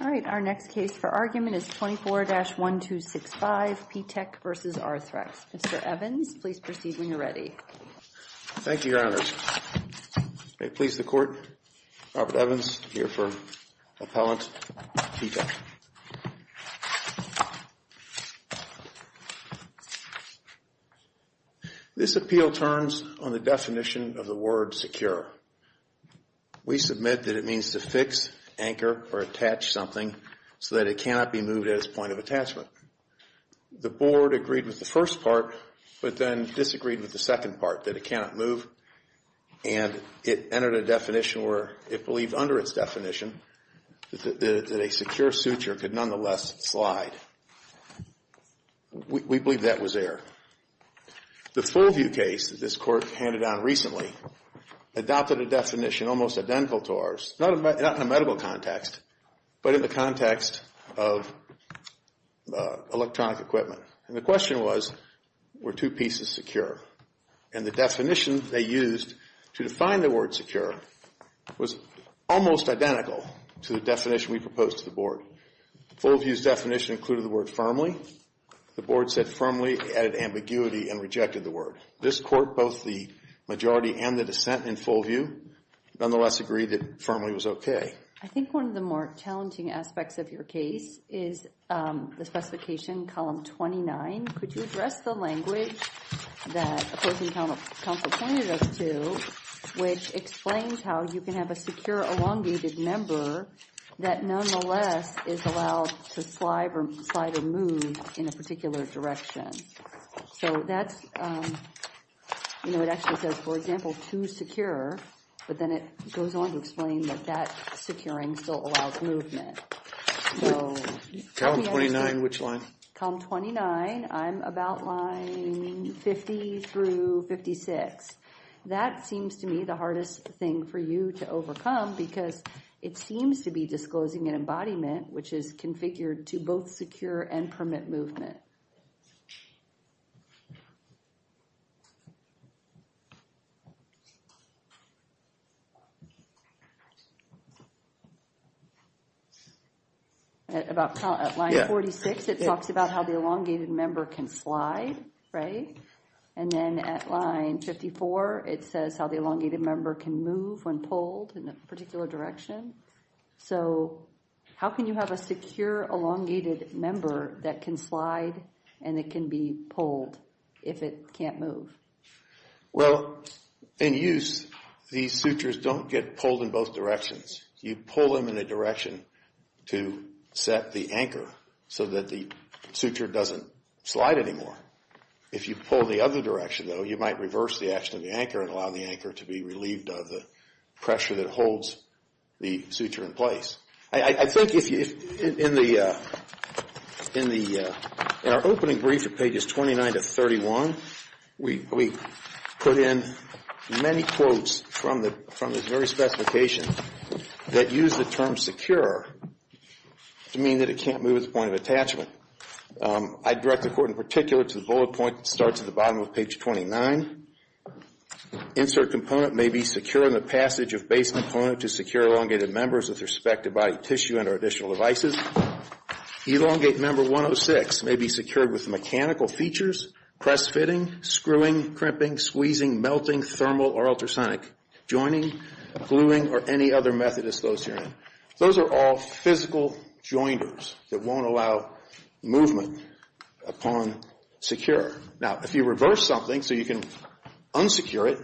All right, our next case for argument is 24-1265 P Tech v. Arthrex. Mr. Evans, please proceed when you're ready. Thank you, Your Honors. May it please the Court, Robert Evans here for Appellant P Tech. This appeal turns on the definition of the word secure. We submit that it means to fix, anchor, or attach something so that it cannot be moved at its point of attachment. The Board agreed with the first part, but then disagreed with the second part, that it cannot move. And it entered a definition where it believed under its definition that a secure suture could nonetheless slide. We believe that was error. The Fullview case that this Court handed down recently adopted a definition almost identical to ours, not in a medical context, but in the context of electronic equipment. And the question was, were two pieces secure? And the definition they used to define the word secure was almost identical to the definition we proposed to the Board. Fullview's definition included the word firmly. The Board said firmly, added ambiguity, and rejected the word. This Court, both the majority and the dissent in Fullview, nonetheless agreed that firmly was okay. I think one of the more challenging aspects of your case is the specification, column 29. Could you address the language that opposing counsel pointed us to, which explains how you can have a secure elongated member that nonetheless is allowed to slide or move in a particular direction. So that's, you know, it actually says, for example, too secure. But then it goes on to explain that that securing still allows movement. Column 29, which line? Column 29, I'm about line 50 through 56. That seems to me the hardest thing for you to overcome because it seems to be disclosing an embodiment, which is configured to both secure and permit movement. About line 46, it talks about how the elongated member can slide, right? And then at line 54, it says how the elongated member can move when pulled in a particular direction. So how can you have a secure elongated member that can slide and it can be pulled if it can't move? Well, in use, these sutures don't get pulled in both directions. You pull them in a direction to set the anchor so that the suture doesn't slide anymore. If you pull the other direction, though, you might reverse the action of the anchor and allow the anchor to be relieved of the pressure that holds the suture in place. I think in our opening brief at pages 29 to 31, we put in many quotes from the very specification that use the term secure to mean that it can't move at the point of attachment. I direct the court in particular to the bullet point that starts at the bottom of page 29. Insert component may be secure in the passage of base component to secure elongated members with respect to body tissue and or additional devices. Elongate member 106 may be secured with mechanical features, press fitting, screwing, crimping, squeezing, melting, thermal, or ultrasonic, joining, gluing, or any other method of dislocation. Those are all physical joiners that won't allow movement upon secure. Now, if you reverse something so you can unsecure it,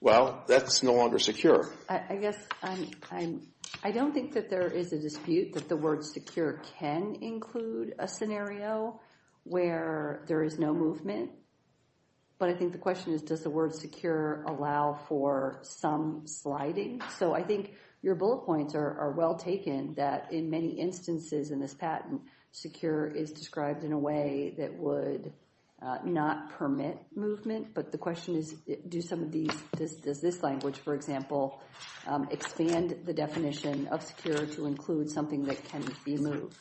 well, that's no longer secure. I guess I don't think that there is a dispute that the word secure can include a scenario where there is no movement, but I think the question is does the word secure allow for some sliding? So I think your bullet points are well taken that in many instances in this patent, secure is described in a way that would not permit movement. But the question is do some of these, does this language, for example, expand the definition of secure to include something that can be moved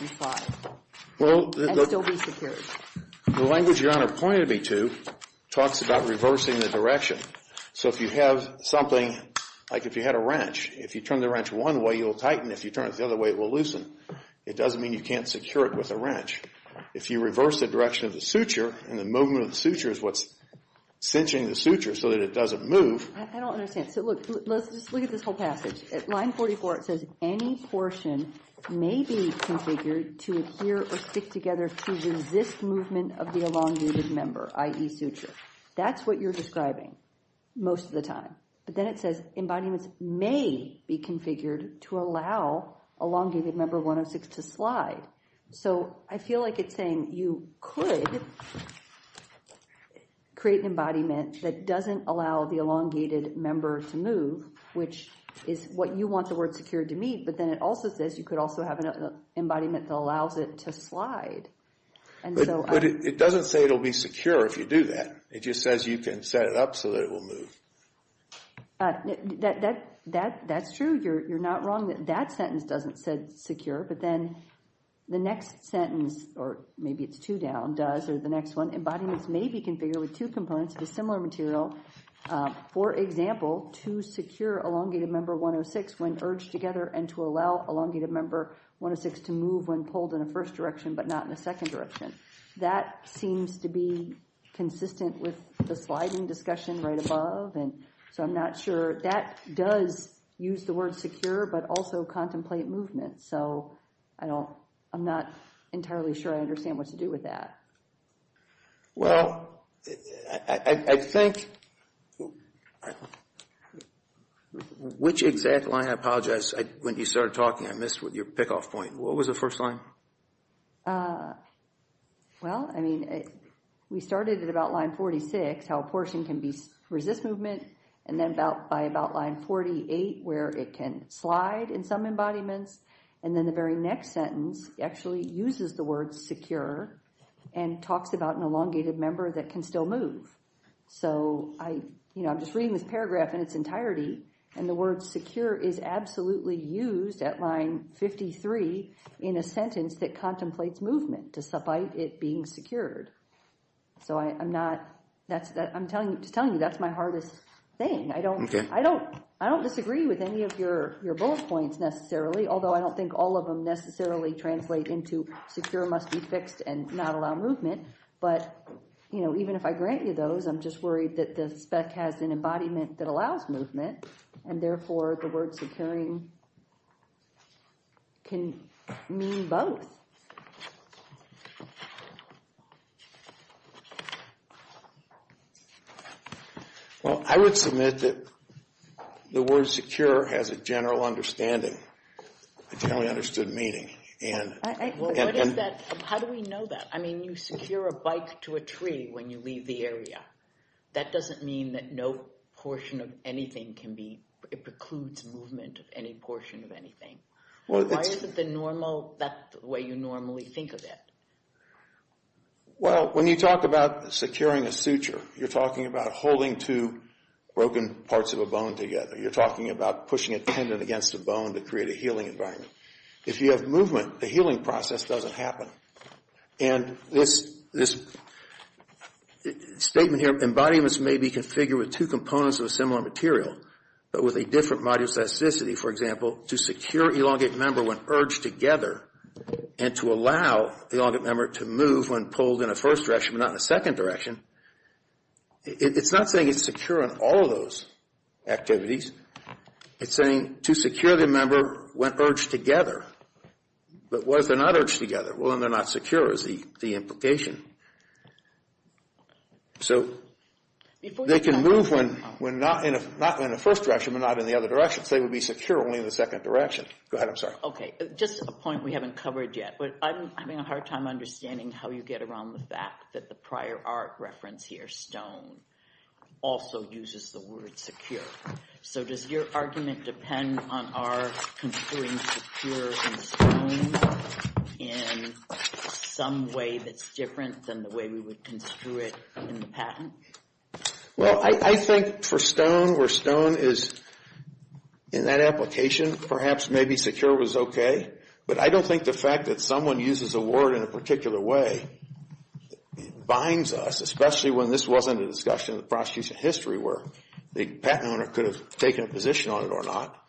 and still be secured? The language Your Honor pointed me to talks about reversing the direction. So if you have something, like if you had a wrench, if you turn the wrench one way, you'll tighten. If you turn it the other way, it will loosen. It doesn't mean you can't secure it with a wrench. If you reverse the direction of the suture and the movement of the suture is what's cinching the suture so that it doesn't move. I don't understand. So look, let's just look at this whole passage. At line 44, it says any portion may be configured to adhere or stick together to resist movement of the elongated member, i.e. suture. That's what you're describing most of the time. But then it says embodiments may be configured to allow elongated member 106 to slide. So I feel like it's saying you could create an embodiment that doesn't allow the elongated member to move, which is what you want the word secure to mean. But then it also says you could also have an embodiment that allows it to slide. But it doesn't say it will be secure if you do that. It just says you can set it up so that it will move. That's true. You're not wrong that that sentence doesn't say secure. But then the next sentence, or maybe it's two down, does, or the next one, embodiments may be configured with two components of a similar material. For example, to secure elongated member 106 when urged together and to allow elongated member 106 to move when pulled in a first direction but not in a second direction. That seems to be consistent with the sliding discussion right above. So I'm not sure. That does use the word secure but also contemplate movement. So I'm not entirely sure I understand what to do with that. Well, I think, which exact line? When you started talking, I missed your pick-off point. What was the first line? Well, I mean, we started at about line 46, how a portion can resist movement, and then by about line 48 where it can slide in some embodiments. And then the very next sentence actually uses the word secure and talks about an elongated member that can still move. So I'm just reading this paragraph in its entirety, and the word secure is absolutely used at line 53 in a sentence that contemplates movement despite it being secured. So I'm telling you that's my hardest thing. I don't disagree with any of your bullet points necessarily, although I don't think all of them necessarily translate into secure must be fixed and not allow movement. But, you know, even if I grant you those, I'm just worried that the spec has an embodiment that allows movement, and therefore the word securing can mean both. Well, I would submit that the word secure has a general understanding, a generally understood meaning. Well, what is that? How do we know that? I mean, you secure a bike to a tree when you leave the area. That doesn't mean that no portion of anything can be, it precludes movement of any portion of anything. Why is it the normal, that way you normally think of it? Well, when you talk about securing a suture, you're talking about holding two broken parts of a bone together. You're talking about pushing a tendon against a bone to create a healing environment. If you have movement, the healing process doesn't happen. And this statement here, embodiments may be configured with two components of a similar material, but with a different modular specificity. For example, to secure elongate member when urged together, and to allow the elongate member to move when pulled in a first direction, but not in a second direction. It's not saying it's secure in all of those activities. It's saying to secure the member when urged together. But what if they're not urged together? Well, then they're not secure is the implication. So, they can move when not in a first direction, but not in the other direction. So they would be secure only in the second direction. Go ahead, I'm sorry. Okay, just a point we haven't covered yet. I'm having a hard time understanding how you get around the fact that the prior art reference here, stone, also uses the word secure. So does your argument depend on our construing secure in stone in some way that's different than the way we would construe it in the patent? Well, I think for stone, where stone is in that application, perhaps maybe secure was okay. But I don't think the fact that someone uses a word in a particular way binds us, especially when this wasn't a discussion in the prosecution history where the patent owner could have taken a position on it or not.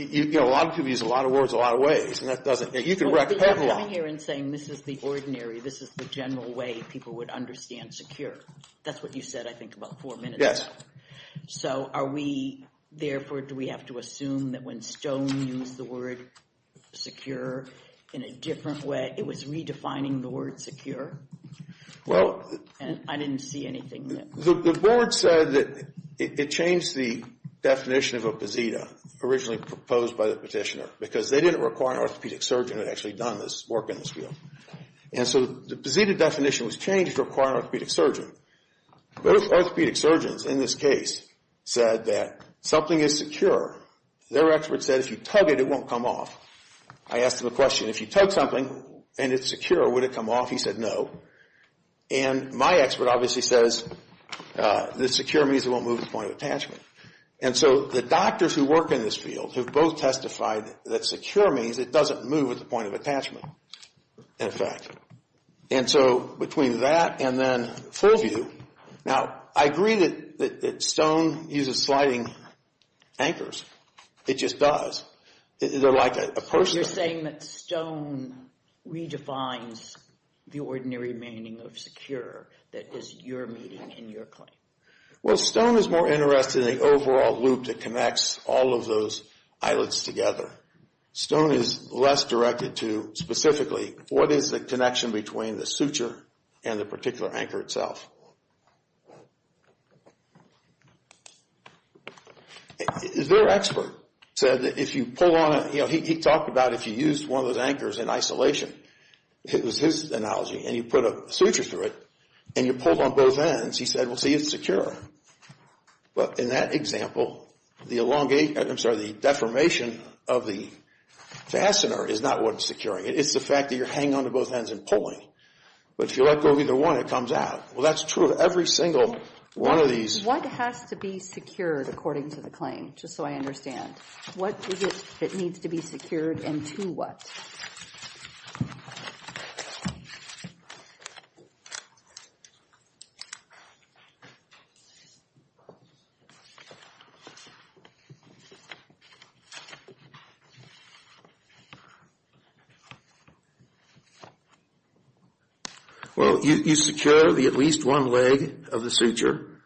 You know, a lot of people use a lot of words a lot of ways, and that doesn't – you can wreck a patent law. But you're coming here and saying this is the ordinary, this is the general way people would understand secure. That's what you said, I think, about four minutes ago. Yes. So are we – therefore, do we have to assume that when stone used the word secure in a different way, it was redefining the word secure? Well – And I didn't see anything there. The board said that it changed the definition of a posita originally proposed by the petitioner because they didn't require an orthopedic surgeon who had actually done this work in this field. And so the posita definition was changed to require an orthopedic surgeon. Both orthopedic surgeons in this case said that something is secure. Their expert said if you tug it, it won't come off. I asked him a question. If you tug something and it's secure, would it come off? He said no. And my expert obviously says that secure means it won't move at the point of attachment. And so the doctors who work in this field have both testified that secure means it doesn't move at the point of attachment, in effect. And so between that and then full view – now, I agree that stone uses sliding anchors. It just does. They're like a – You're saying that stone redefines the ordinary meaning of secure that is your meaning in your claim. Well, stone is more interested in the overall loop that connects all of those islets together. Stone is less directed to specifically what is the connection between the suture and the particular anchor itself. Their expert said that if you pull on a – he talked about if you used one of those anchors in isolation. It was his analogy. And you put a suture through it and you pull on both ends, he said, well, see, it's secure. But in that example, the elongation – I'm sorry, the deformation of the fastener is not what's securing it. It's the fact that you're hanging on to both ends and pulling. But if you let go of either one, it comes out. Well, that's true. That's true of every single one of these. What has to be secured according to the claim, just so I understand? What is it that needs to be secured and to what? Well, you secure the at least one leg of the suture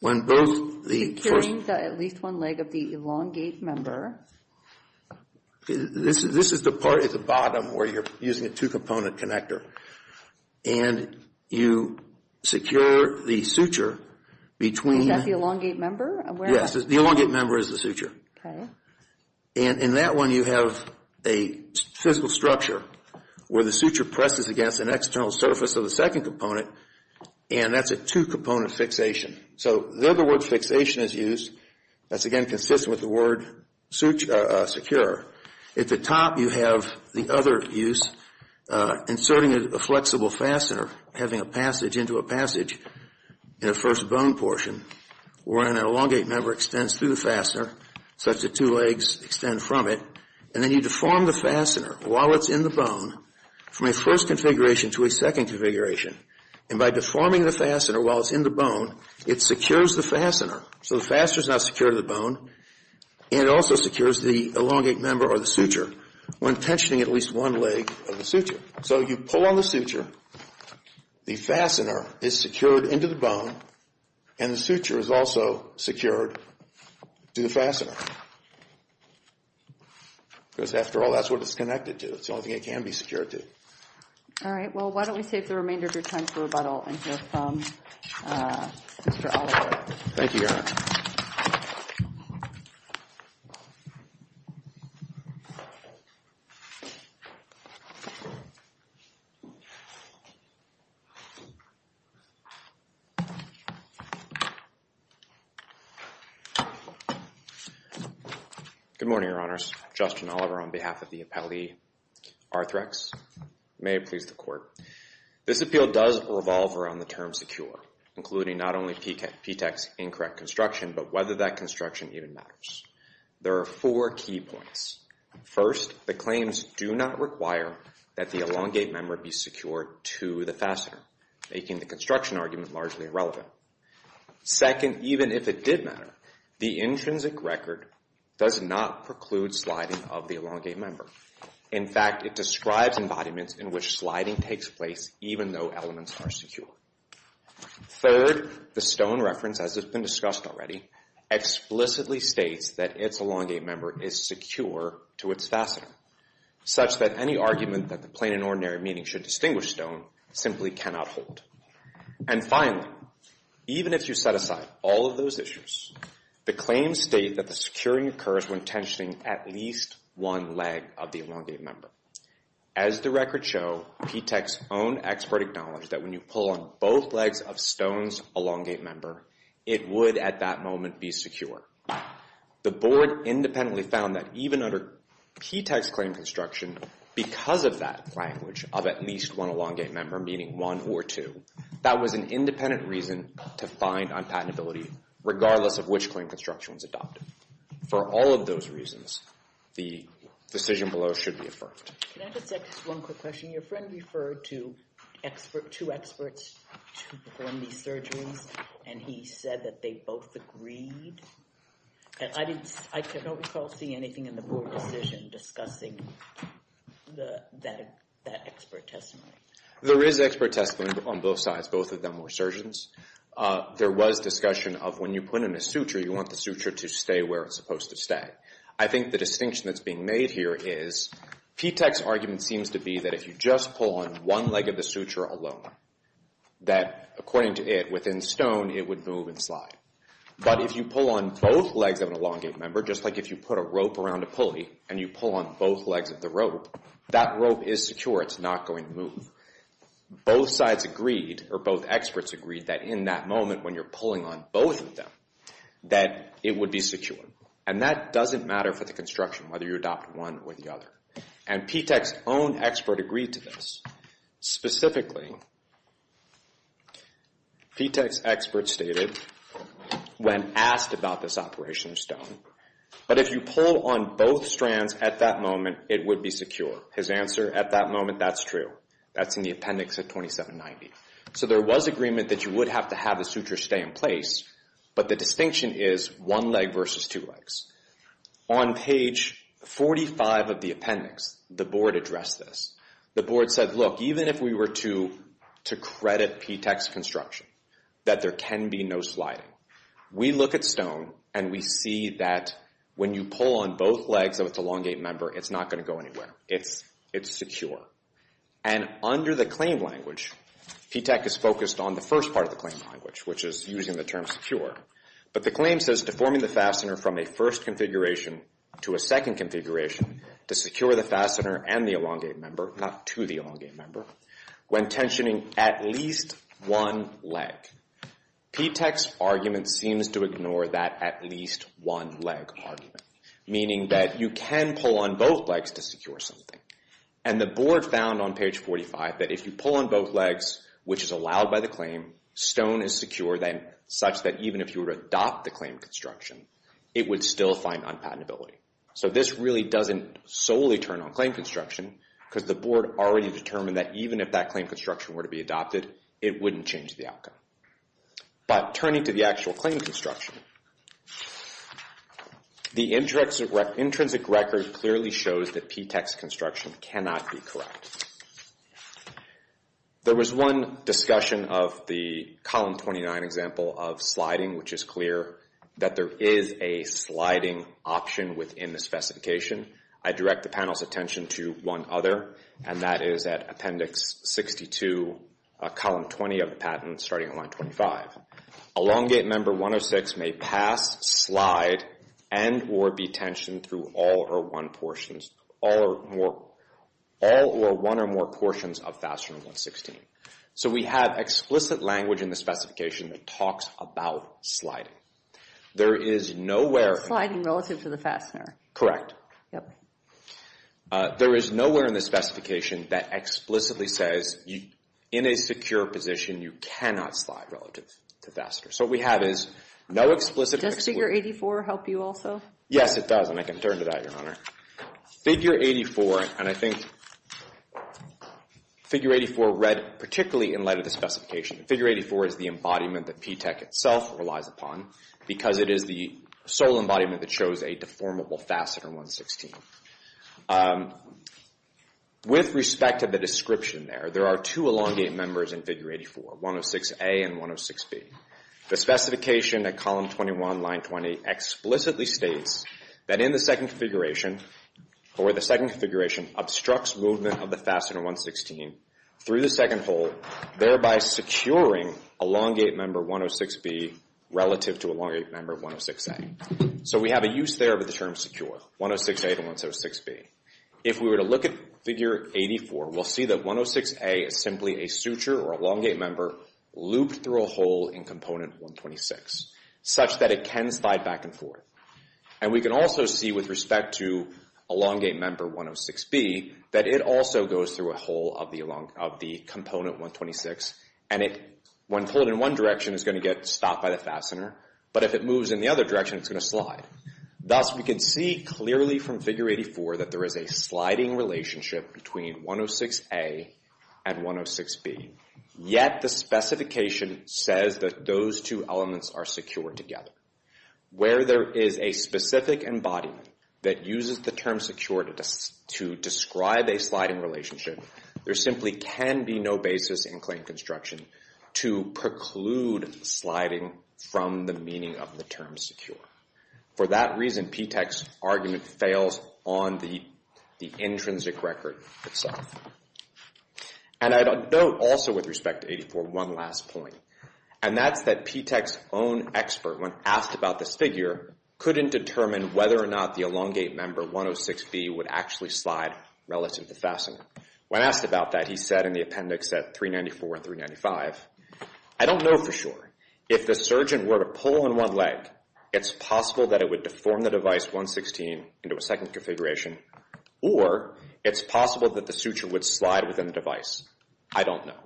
when both the – Securing the at least one leg of the elongate member. This is the part at the bottom where you're using a two-component connector. And you secure the suture between – Is that the elongate member? Yes, the elongate member is the suture. Okay. And in that one, you have a physical structure where the suture presses against an external surface of the second component. And that's a two-component fixation. So the other word fixation is used. That's, again, consistent with the word secure. At the top, you have the other use, inserting a flexible fastener, having a passage into a passage in a first bone portion where an elongate member extends through the fastener such that two legs extend from it. And then you deform the fastener while it's in the bone from a first configuration to a second configuration. And by deforming the fastener while it's in the bone, it secures the fastener. So the fastener is now secured to the bone. And it also secures the elongate member or the suture when tensioning at least one leg of the suture. So you pull on the suture. The fastener is secured into the bone. And the suture is also secured to the fastener. Because, after all, that's what it's connected to. It's the only thing it can be secured to. All right. Well, why don't we save the remainder of your time for rebuttal and hear from Mr. Oliver. Thank you, Your Honor. Good morning, Your Honors. Justin Oliver on behalf of the appellee, Arthrex. May it please the Court. This appeal does revolve around the term secure, including not only P-TECH's incorrect construction, but whether that construction even matters. There are four key points. First, the claims do not require that the elongate member be secured to the fastener, making the construction argument largely irrelevant. Second, even if it did matter, the intrinsic record does not preclude sliding of the elongate member. In fact, it describes embodiments in which sliding takes place even though elements are secure. Third, the stone reference, as has been discussed already, explicitly states that its elongate member is secure to its fastener, such that any argument that the plain and ordinary meaning should distinguish stone simply cannot hold. And finally, even if you set aside all of those issues, the claims state that the securing occurs when tensioning at least one leg of the elongate member. As the records show, P-TECH's own expert acknowledged that when you pull on both legs of stone's elongate member, it would at that moment be secure. The Board independently found that even under P-TECH's claim construction, because of that language of at least one elongate member, meaning one or two, that was an independent reason to find unpatentability, regardless of which claim construction was adopted. For all of those reasons, the decision below should be affirmed. Can I just ask one quick question? Your friend referred to two experts to perform these surgeries, and he said that they both agreed. I don't recall seeing anything in the Board decision discussing that expert testimony. There is expert testimony on both sides. Both of them were surgeons. There was discussion of when you put in a suture, you want the suture to stay where it's supposed to stay. I think the distinction that's being made here is P-TECH's argument seems to be that if you just pull on one leg of the suture alone, that according to it, within stone, it would move and slide. But if you pull on both legs of an elongate member, just like if you put a rope around a pulley and you pull on both legs of the rope, that rope is secure. It's not going to move. Both sides agreed, or both experts agreed, that in that moment when you're pulling on both of them, that it would be secure. And that doesn't matter for the construction, whether you adopt one or the other. And P-TECH's own expert agreed to this. Specifically, P-TECH's expert stated, when asked about this operation of stone, but if you pull on both strands at that moment, it would be secure. His answer at that moment, that's true. That's in the appendix at 2790. So there was agreement that you would have to have the suture stay in place, but the distinction is one leg versus two legs. On page 45 of the appendix, the board addressed this. The board said, look, even if we were to credit P-TECH's construction, that there can be no sliding. We look at stone, and we see that when you pull on both legs of its elongate member, it's not going to go anywhere. It's secure. And under the claim language, P-TECH is focused on the first part of the claim language, which is using the term secure. But the claim says, deforming the fastener from a first configuration to a second configuration to secure the fastener and the elongate member, not to the elongate member, when tensioning at least one leg. P-TECH's argument seems to ignore that at least one leg argument, meaning that you can pull on both legs to secure something. And the board found on page 45 that if you pull on both legs, which is allowed by the claim, stone is secure, such that even if you were to adopt the claim construction, it would still find unpatentability. So this really doesn't solely turn on claim construction, because the board already determined that even if that claim construction were to be adopted, it wouldn't change the outcome. But turning to the actual claim construction, the intrinsic record clearly shows that P-TECH's construction cannot be correct. There was one discussion of the column 29 example of sliding, which is clear that there is a sliding option within this specification. I direct the panel's attention to one other, and that is at appendix 62, column 20 of the patent, starting on line 25. Elongate member 106 may pass, slide, and or be tensioned through all or one portions, all or more, all or one or more portions of fastener 116. So we have explicit language in the specification that talks about sliding. There is nowhere... It's sliding relative to the fastener. Correct. Yep. There is nowhere in the specification that explicitly says, in a secure position, you cannot slide relative to fastener. So what we have is no explicit... Does figure 84 help you also? Yes, it does, and I can turn to that, Your Honor. Figure 84, and I think figure 84 read particularly in light of the specification. Figure 84 is the embodiment that P-TECH itself relies upon, because it is the sole embodiment that shows a deformable fastener 116. With respect to the description there, there are two elongate members in figure 84, 106A and 106B. The specification at column 21, line 20, explicitly states that in the second configuration, or the second configuration obstructs movement of the fastener 116 through the second hole, thereby securing elongate member 106B relative to elongate member 106A. So we have a use there of the term secure, 106A to 106B. If we were to look at figure 84, we'll see that 106A is simply a suture or elongate member looped through a hole in component 126, such that it can slide back and forth. And we can also see, with respect to elongate member 106B, that it also goes through a hole of the component 126, and when pulled in one direction, it's going to get stopped by the fastener. But if it moves in the other direction, it's going to slide. Thus, we can see clearly from figure 84 that there is a sliding relationship between 106A and 106B. Yet the specification says that those two elements are secure together. Where there is a specific embodiment that uses the term secure to describe a sliding relationship, there simply can be no basis in claim construction to preclude sliding from the meaning of the term secure. For that reason, P-TECH's argument fails on the intrinsic record itself. And I'd note also, with respect to 84, one last point, and that's that P-TECH's own expert, when asked about this figure, couldn't determine whether or not the elongate member 106B would actually slide relative to the fastener. When asked about that, he said in the appendix at 394 and 395, I don't know for sure. If the surgeon were to pull in one leg, it's possible that it would deform the device 116 into a second configuration, or it's possible that the suture would slide within the device. I don't know.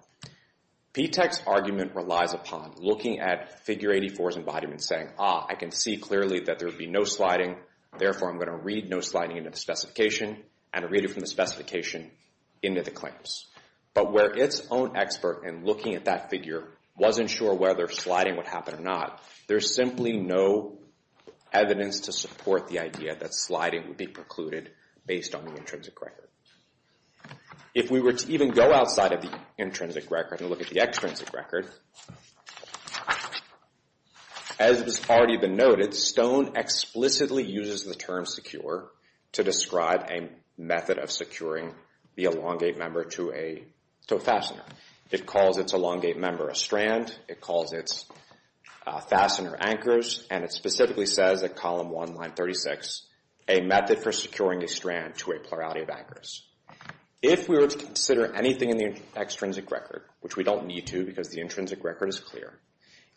P-TECH's argument relies upon looking at figure 84's embodiment and saying, ah, I can see clearly that there would be no sliding, therefore I'm going to read no sliding into the specification, and read it from the specification into the claims. But where its own expert in looking at that figure wasn't sure whether sliding would happen or not, there's simply no evidence to support the idea that sliding would be precluded based on the intrinsic record. If we were to even go outside of the intrinsic record and look at the extrinsic record, as has already been noted, Stone explicitly uses the term secure to describe a method of securing the elongate member to a fastener. It calls its elongate member a strand. It calls its fastener anchors. And it specifically says at column 1, line 36, a method for securing a strand to a plurality of anchors. If we were to consider anything in the extrinsic record, which we don't need to because the intrinsic record is clear,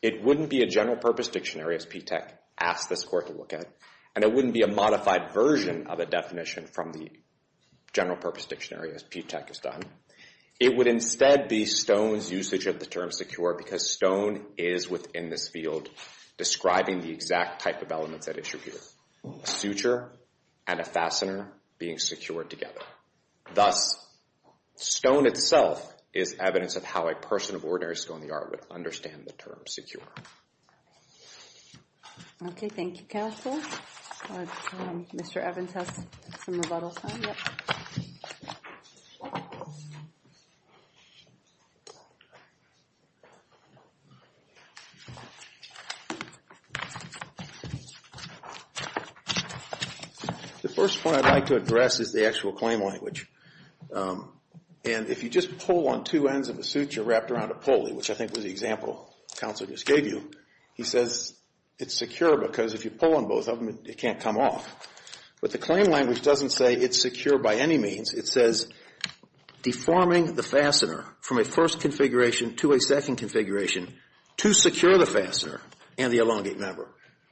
it wouldn't be a general purpose dictionary, as P-TECH asked this court to look at, and it wouldn't be a modified version of a definition from the general purpose dictionary as P-TECH has done. It would instead be Stone's usage of the term secure because Stone is within this field describing the exact type of elements at issue here, a suture and a fastener being secured together. Thus, Stone itself is evidence of how a person of ordinary skill in the art would understand the term secure. Okay, thank you, counsel. Mr. Evans has some rebuttals now. The first point I'd like to address is the actual claim language. And if you just pull on two ends of a suture wrapped around a pulley, which I think was the example counsel just gave you, he says it's secure because if you pull on both of them, it can't come off. But the claim language doesn't say it's secure by any means. It says deforming the fastener from a first configuration to a second configuration to secure the fastener and the elongate member.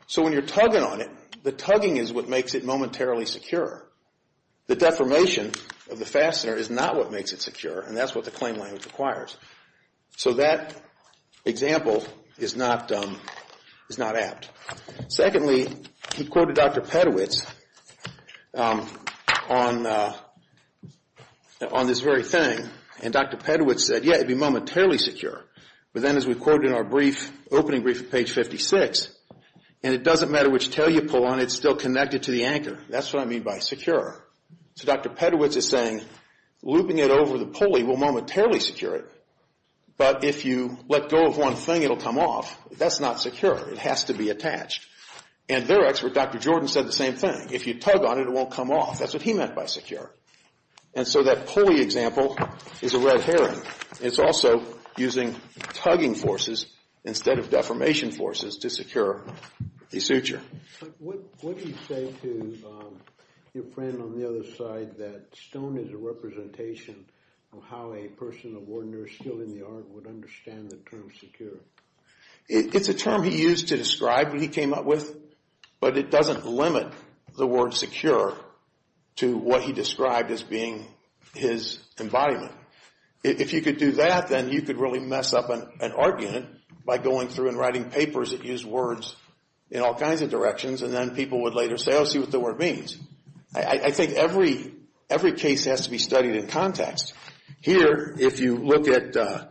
So when you're tugging on it, the tugging is what makes it momentarily secure. The deformation of the fastener is not what makes it secure, and that's what the claim language requires. So that example is not apt. Secondly, he quoted Dr. Pedowitz on this very thing. And Dr. Pedowitz said, yeah, it'd be momentarily secure. But then as we quoted in our opening brief at page 56, and it doesn't matter which tail you pull on, it's still connected to the anchor. That's what I mean by secure. So Dr. Pedowitz is saying looping it over the pulley will momentarily secure it, but if you let go of one thing, it'll come off. That's not secure. It has to be attached. And their expert, Dr. Jordan, said the same thing. If you tug on it, it won't come off. That's what he meant by secure. And so that pulley example is a red herring. It's also using tugging forces instead of deformation forces to secure the suture. What do you say to your friend on the other side that stone is a representation of how a person of ordinary skill in the art would understand the term secure? It's a term he used to describe what he came up with, but it doesn't limit the word secure to what he described as being his embodiment. If you could do that, then you could really mess up an art unit by going through and writing papers that use words in all kinds of directions, and then people would later say, oh, see what the word means. I think every case has to be studied in context. Here, if you look at a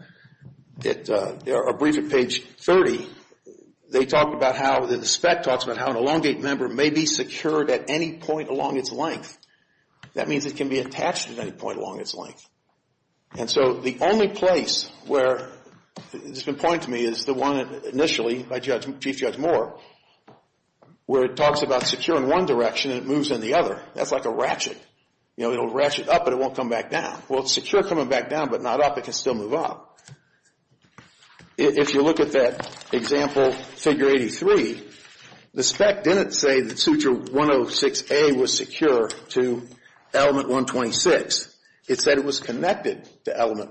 brief at page 30, they talk about how the spec talks about how an elongate member may be secured at any point along its length. That means it can be attached at any point along its length. And so the only place where it's been pointed to me is the one initially by Chief Judge Moore where it talks about secure in one direction and it moves in the other. That's like a ratchet. It'll ratchet up, but it won't come back down. Well, it's secure coming back down, but not up. It can still move up. If you look at that example, figure 83, the spec didn't say that suture 106A was secure to element 126. It said it was connected to element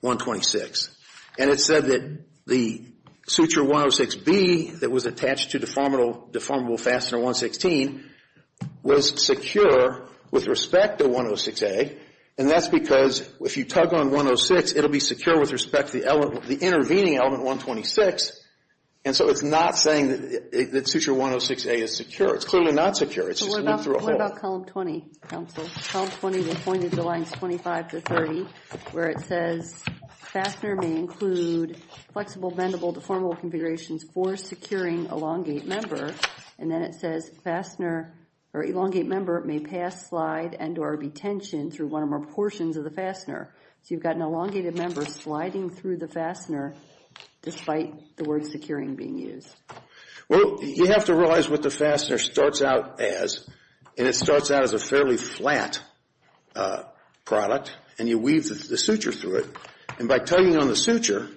126. And it said that the suture 106B that was attached to deformable fastener 116 was secure with respect to 106A, and that's because if you tug on 106, it'll be secure with respect to the intervening element 126. And so it's not saying that suture 106A is secure. It's clearly not secure. What about column 20, counsel? Column 20, the point of the lines 25 to 30, where it says fastener may include flexible, bendable, deformable configurations for securing elongate member. And then it says fastener or elongate member may pass slide and or be tensioned through one or more portions of the fastener. So you've got an elongated member sliding through the fastener despite the word securing being used. Well, you have to realize what the fastener starts out as, and it starts out as a fairly flat product, and you weave the suture through it. And by tugging on the suture,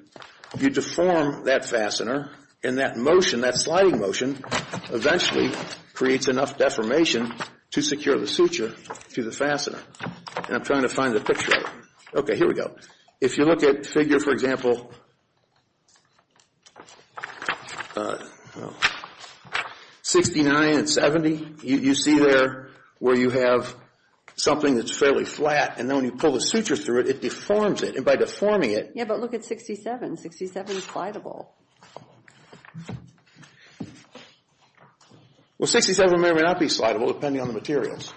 you deform that fastener, and that motion, that sliding motion, eventually creates enough deformation to secure the suture to the fastener. And I'm trying to find the picture of it. Okay, here we go. If you look at figure, for example, 69 and 70, you see there where you have something that's fairly flat, and then when you pull the suture through it, it deforms it. And by deforming it. Yeah, but look at 67. 67 is slideable. Well, 67 may or may not be slideable depending on the materials.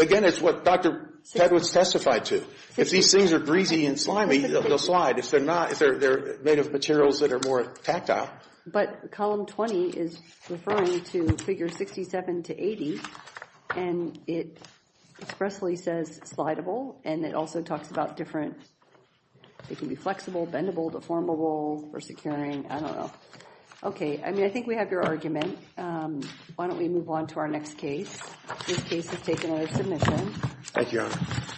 Again, it's what Dr. Tedwitz testified to. If these things are breezy and slimy, they'll slide. If they're not, if they're made of materials that are more tactile. But column 20 is referring to figure 67 to 80, and it expressly says slideable, and it also talks about different, it can be flexible, bendable, deformable, or securing. I don't know. Okay, I mean, I think we have your argument. Why don't we move on to our next case? This case has taken a submission. Thank you, Your Honor.